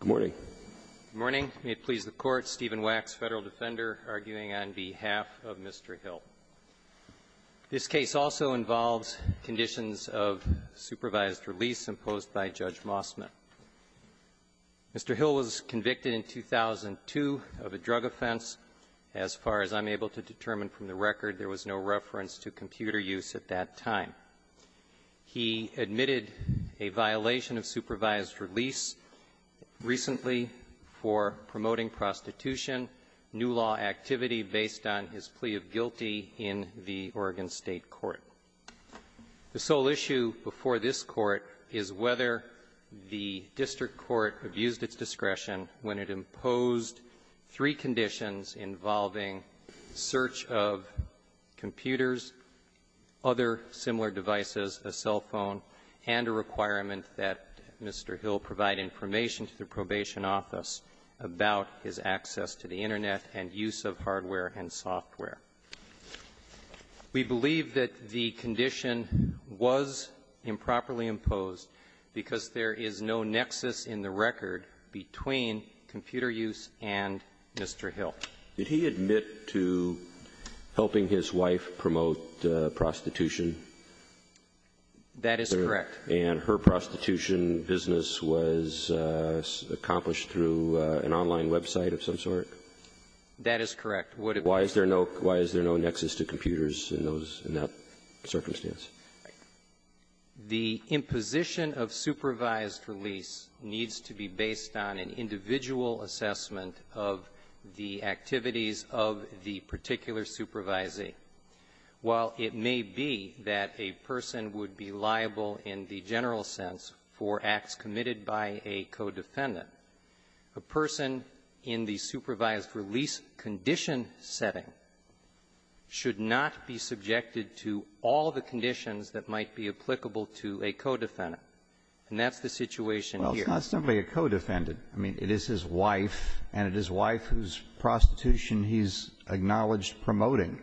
Good morning. Good morning. May it please the Court, Stephen Wax, Federal Defender, arguing on behalf of Mr. Hill. This case also involves conditions of supervised release imposed by Judge Mossman. Mr. Hill was convicted in 2002 of a drug offense. As far as I'm able to determine from the record, there was no reference to computer use at that time. He admitted a violation of supervised release recently for promoting prostitution, new law activity based on his plea of guilty in the Oregon State Court. The sole issue before this Court is whether the district court abused its discretion when it imposed three conditions involving search of computers, other similar devices, a cell phone, and a requirement that Mr. Hill provide information to the Probation Office about his access to the Internet and use of hardware and software. We believe that the condition was improperly imposed because there is no nexus in the record between computer use and Mr. Hill. Did he admit to helping his wife promote prostitution? That is correct. And her prostitution business was accomplished through an online website of some sort? That is correct. Would it be so? Why is there no nexus to computers in that circumstance? The imposition of supervised release needs to be based on an individual assessment of the activities of the particular supervisee. While it may be that a person would be liable in the general sense for acts committed by a co-defendant, a person in the supervised release condition setting should not be subjected to all the conditions that might be applicable to a co-defendant. And that's the situation here. Well, it's not simply a co-defendant. I mean, it is his wife, and it is wife whose prostitution he's acknowledged promoting.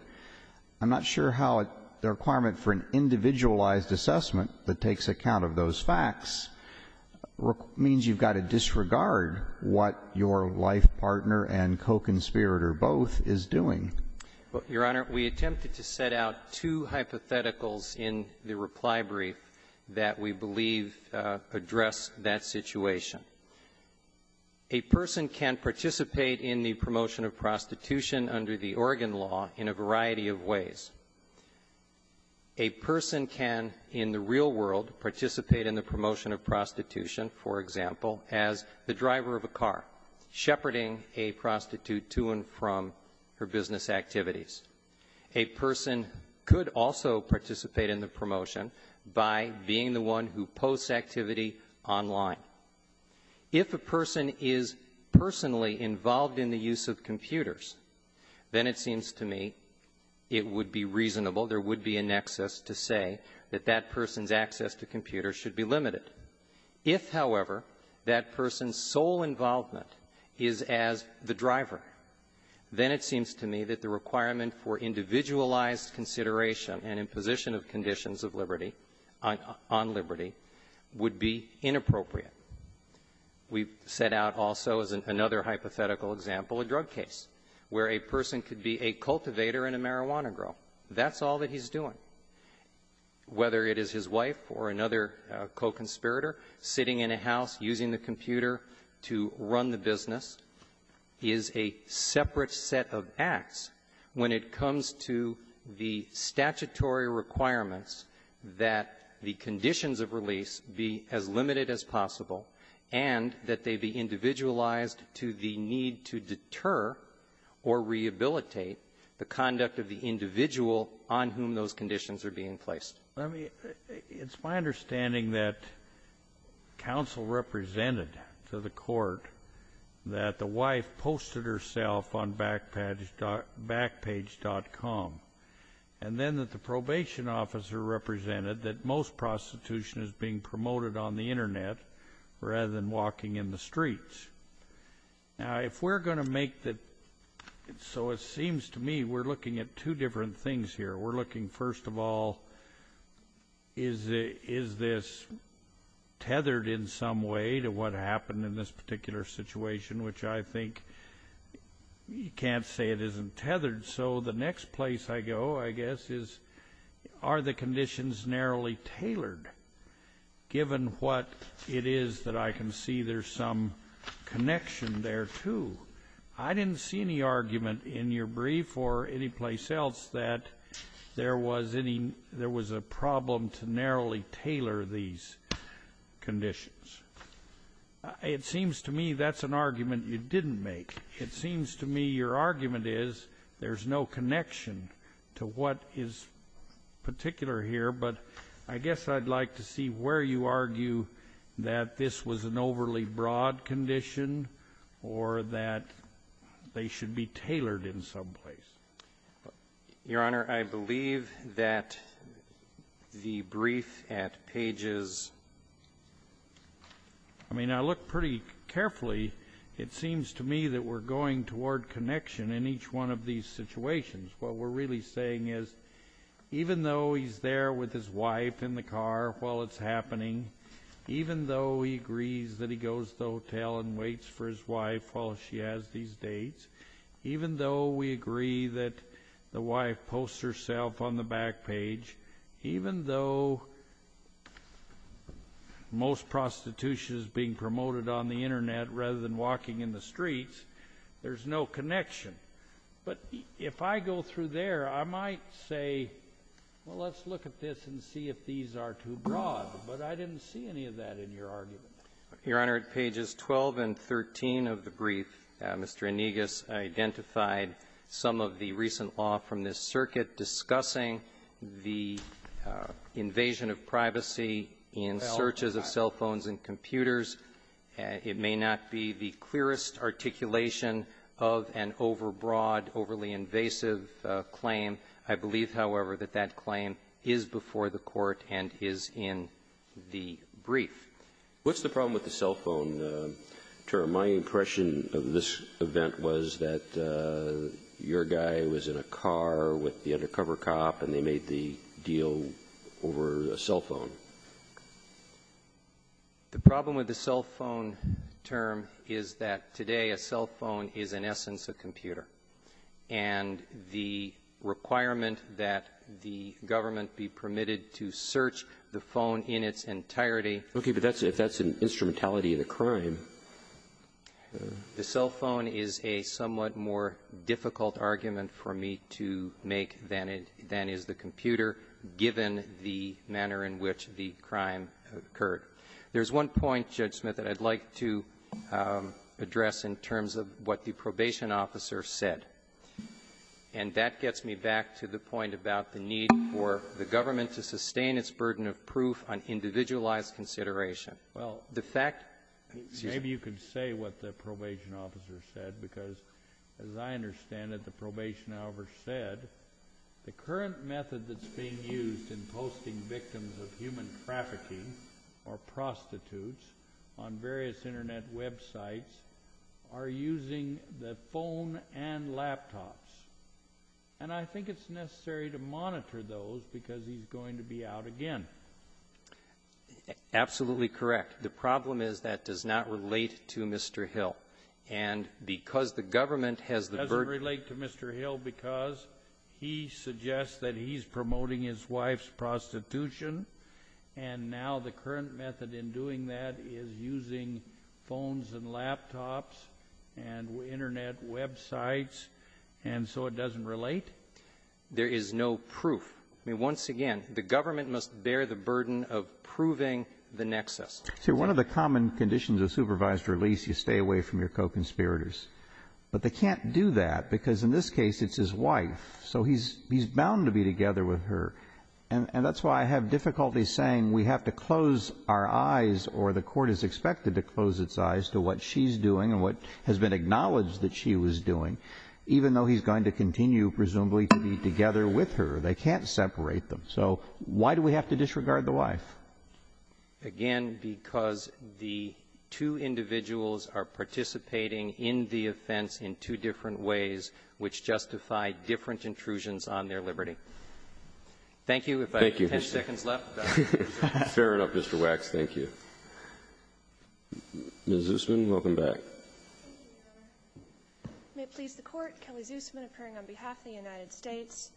I'm not sure how the requirement for an individualized assessment that takes account of those facts means you've got to disregard what your life partner and co-conspirator both is doing. Well, Your Honor, we attempted to set out two hypotheticals in the reply brief that we believe address that situation. A person can participate in the promotion of prostitution under the Oregon law in a variety of ways. A person can, in the real world, participate in the promotion of prostitution, for example, as the driver of a car, shepherding a prostitute to and from her business activities. A person could also participate in the promotion by being the one who posts activity online. If a person is personally involved in the use of computers, then it seems to me it would be reasonable, there would be a nexus to say that that person's access to computers should be limited. If, however, that person's sole involvement is as the driver, then it seems to me that the requirement for individualized consideration and imposition of conditions of liberty on liberty would be inappropriate. We set out also, as another hypothetical example, a drug case where a person could be a cultivator and a marijuana grower. That's all that he's doing. Whether it is his wife or another co-conspirator sitting in a house using the computer to run the business is a separate set of acts when it comes to the statutory requirements that the conditions of release be as limited as possible and that they be individualized to the need to deter or rehabilitate the conduct of the individual on whom those conditions are being placed. It's my understanding that counsel represented to the court that the wife posted herself on Backpage.com and then that the probation officer represented that most prostitution is being promoted on the internet rather than walking in the streets. Now, if we're going to make that, so it seems to me we're looking at two different things here. We're looking, first of all, is this tethered in some way to what happened in this particular situation, which I think you can't say it isn't tethered. So the next place I go, I guess, is are the conditions narrowly tailored given what it is that I can see there's some connection there, too. I didn't see any argument in your brief or anyplace else that there was a problem to narrowly tailor these conditions. It seems to me that's an argument you didn't make. It seems to me your argument is there's no connection to what is particular here, but I guess I'd like to see where you argue that this was an overly broad condition or that they should be tailored in some place. Your Honor, I believe that the brief at Pages... I mean, I look pretty carefully. It seems to me that we're going toward connection in each one of these situations. What we're really saying is even though he's there with his wife in the car while it's happening, even though he agrees that he goes to the hotel and waits for his wife while she has these dates, even though we agree that the wife posts herself on the back page, even though most prostitution is being promoted on the Internet rather than walking in the streets, there's no connection. But if I go through there, I might say, well, let's look at this and see if these are too broad. But I didn't see any of that in your argument. Your Honor, at Pages 12 and 13 of the brief, Mr. Inegas identified some of the recent law from this circuit discussing the invasion of privacy in searches of cell phones and computers. It may not be the clearest articulation of an overbroad, overly invasive claim. I believe, however, that that claim is before the Court and is in the brief. What's the problem with the cell phone term? My impression of this event was that your guy was in a car with the undercover cop and they made the deal over a cell phone. The problem with the cell phone term is that today a cell phone is in essence a computer. And the requirement that the government be permitted to search the phone in its entirety Okay, but that's if that's an instrumentality of the crime. The cell phone is a somewhat more difficult argument for me to make than is the computer, given the manner in which the crime occurred. There's one point, Judge Smith, that I'd like to address in terms of what the probation officer said. And that gets me back to the point about the need for the government to sustain its burden of proof on individualized consideration. Well, the fact that you can say what the probation officer said, because as I understand it, the probation officer said, the current method that's being used in posting victims of human trafficking or prostitutes on various internet websites are using the phone and laptops. And I think it's necessary to monitor those because he's going to be out again. Absolutely correct. The problem is that does not relate to Mr. Hill. And because the government has the burden It doesn't relate to Mr. Hill because he suggests that he's promoting his wife's prostitution. And now the current method in doing that is using phones and laptops and internet websites. And so it doesn't relate. There is no proof. I mean, once again, the government must bear the burden of proving the nexus. One of the common conditions of supervised release, you stay away from your co-conspirators. But they can't do that because in this case, it's his wife. So he's bound to be together with her. And that's why I have difficulty saying we have to close our eyes or the court is expected to close its eyes to what she's doing and what has been acknowledged that she was doing, even though he's going to continue, presumably, to be together with her. They can't separate them. So why do we have to disregard the wife? Again, because the two individuals are participating in the offense in two different ways, which justify different intrusions on their liberty. Thank you. Thank you. If I have ten seconds left. Fair enough, Mr. Wax. Thank you. Ms. Zussman, welcome back. Thank you, Your Honor. May it please the Court, Kelly Zussman, appearing on behalf of the United States.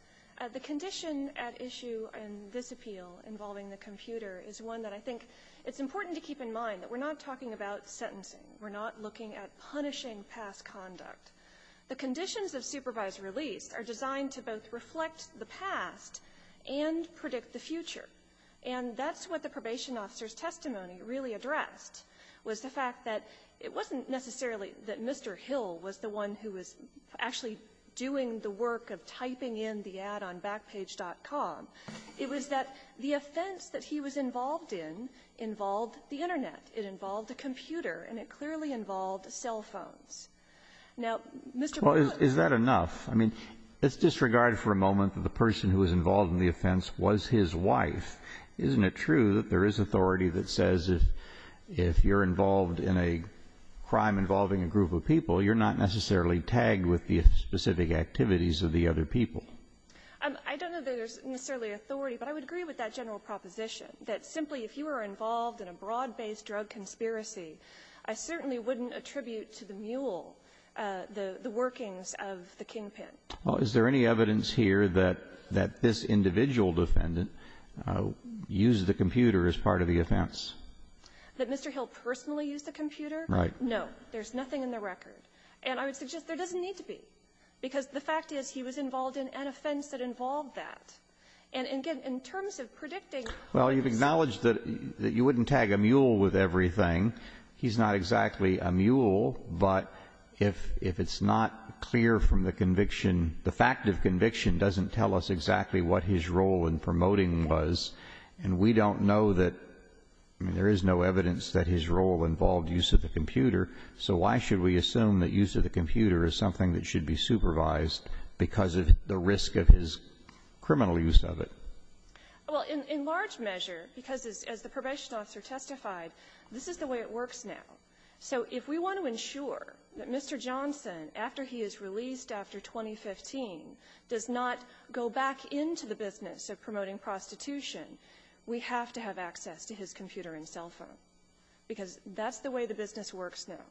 The condition at issue in this appeal involving the computer is one that I think it's important to keep in mind that we're not talking about sentencing. We're not looking at punishing past conduct. The conditions of supervised release are designed to both reflect the past and predict the future. And that's what the probation officer's testimony really addressed, was the fact that it wasn't necessarily that Mr. Hill was the one who was actually doing the work of typing in the ad on Backpage.com. It was that the offense that he was involved in involved the Internet. It involved a computer. And it clearly involved cell phones. Now, Mr. Boutrous. Well, is that enough? I mean, let's disregard for a moment that the person who was involved in the offense was his wife. Isn't it true that there is authority that says if you're involved in a crime involving a group of people, you're not necessarily tagged with the specific activities of the other people? I don't know that there's necessarily authority, but I would agree with that general proposition, that simply if you were involved in a broad-based drug conspiracy, I certainly wouldn't attribute to the mule the workings of the kingpin. Well, is there any evidence here that this individual defendant used the computer as part of the offense? That Mr. Hill personally used the computer? Right. There's nothing in the record. And I would suggest there doesn't need to be. Because the fact is he was involved in an offense that involved that. And again, in terms of predicting... Well, you've acknowledged that you wouldn't tag a mule with everything. He's not exactly a mule, but if it's not clear from the conviction, the fact of conviction doesn't tell us exactly what his role in promoting was, and we don't know that, I mean, there is no evidence that his role involved use of the computer. So why should we assume that use of the computer is something that should be supervised because of the risk of his criminal use of it? Well, in large measure, because as the probation officer testified, this is the way it works now. So if we want to ensure that Mr. Johnson, after he is released after 2015, does not go back into the business of promoting prostitution, we have to have access to his computer and cell phone. Because that's the way the business works now.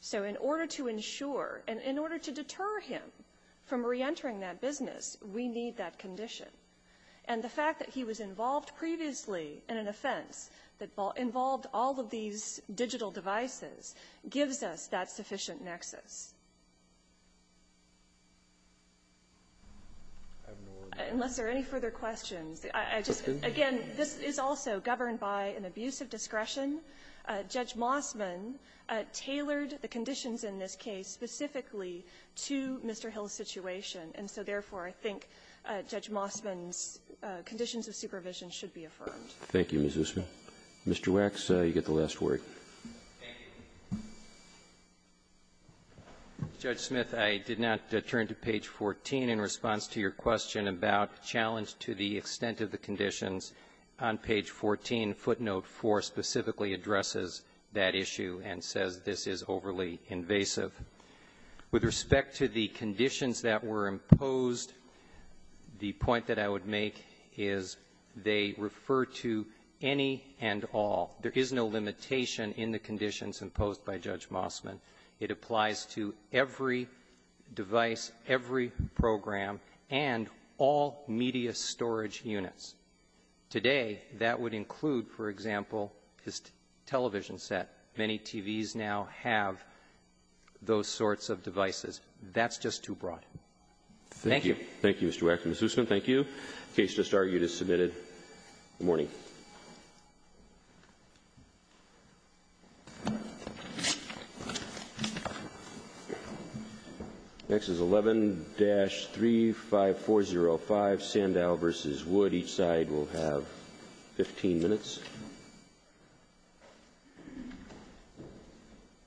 So in order to ensure, and in order to deter him from reentering that business, we need that condition. And the fact that he was involved previously in an offense that involved all of these digital devices gives us that sufficient nexus. Unless there are any further questions. I just, again, this is also governed by an abuse of discretion. Judge Mossman tailored the conditions in this case specifically to Mr. Hill's situation, and so, therefore, I think Judge Mossman's conditions of supervision should be affirmed. Thank you, Ms. Usman. Mr. Wax, you get the last word. Thank you. Judge Smith, I did not turn to page 14 in response to your question about challenge to the extent of the conditions. On page 14, footnote 4 specifically addresses that issue and says this is overly invasive. With respect to the conditions that were imposed, the point that I would make is they refer to any and all. There is no limitation in the conditions imposed by Judge Mossman. It applies to every device, every program, and all media storage units. Today, that would include, for example, his television set. Many TVs now have those sorts of devices. That's just too broad. Thank you. Thank you, Mr. Wax. Ms. Usman, thank you. The case just argued is submitted. Good morning. Next is 11-35405, Sandow v. Wood. Each side will have 15 minutes.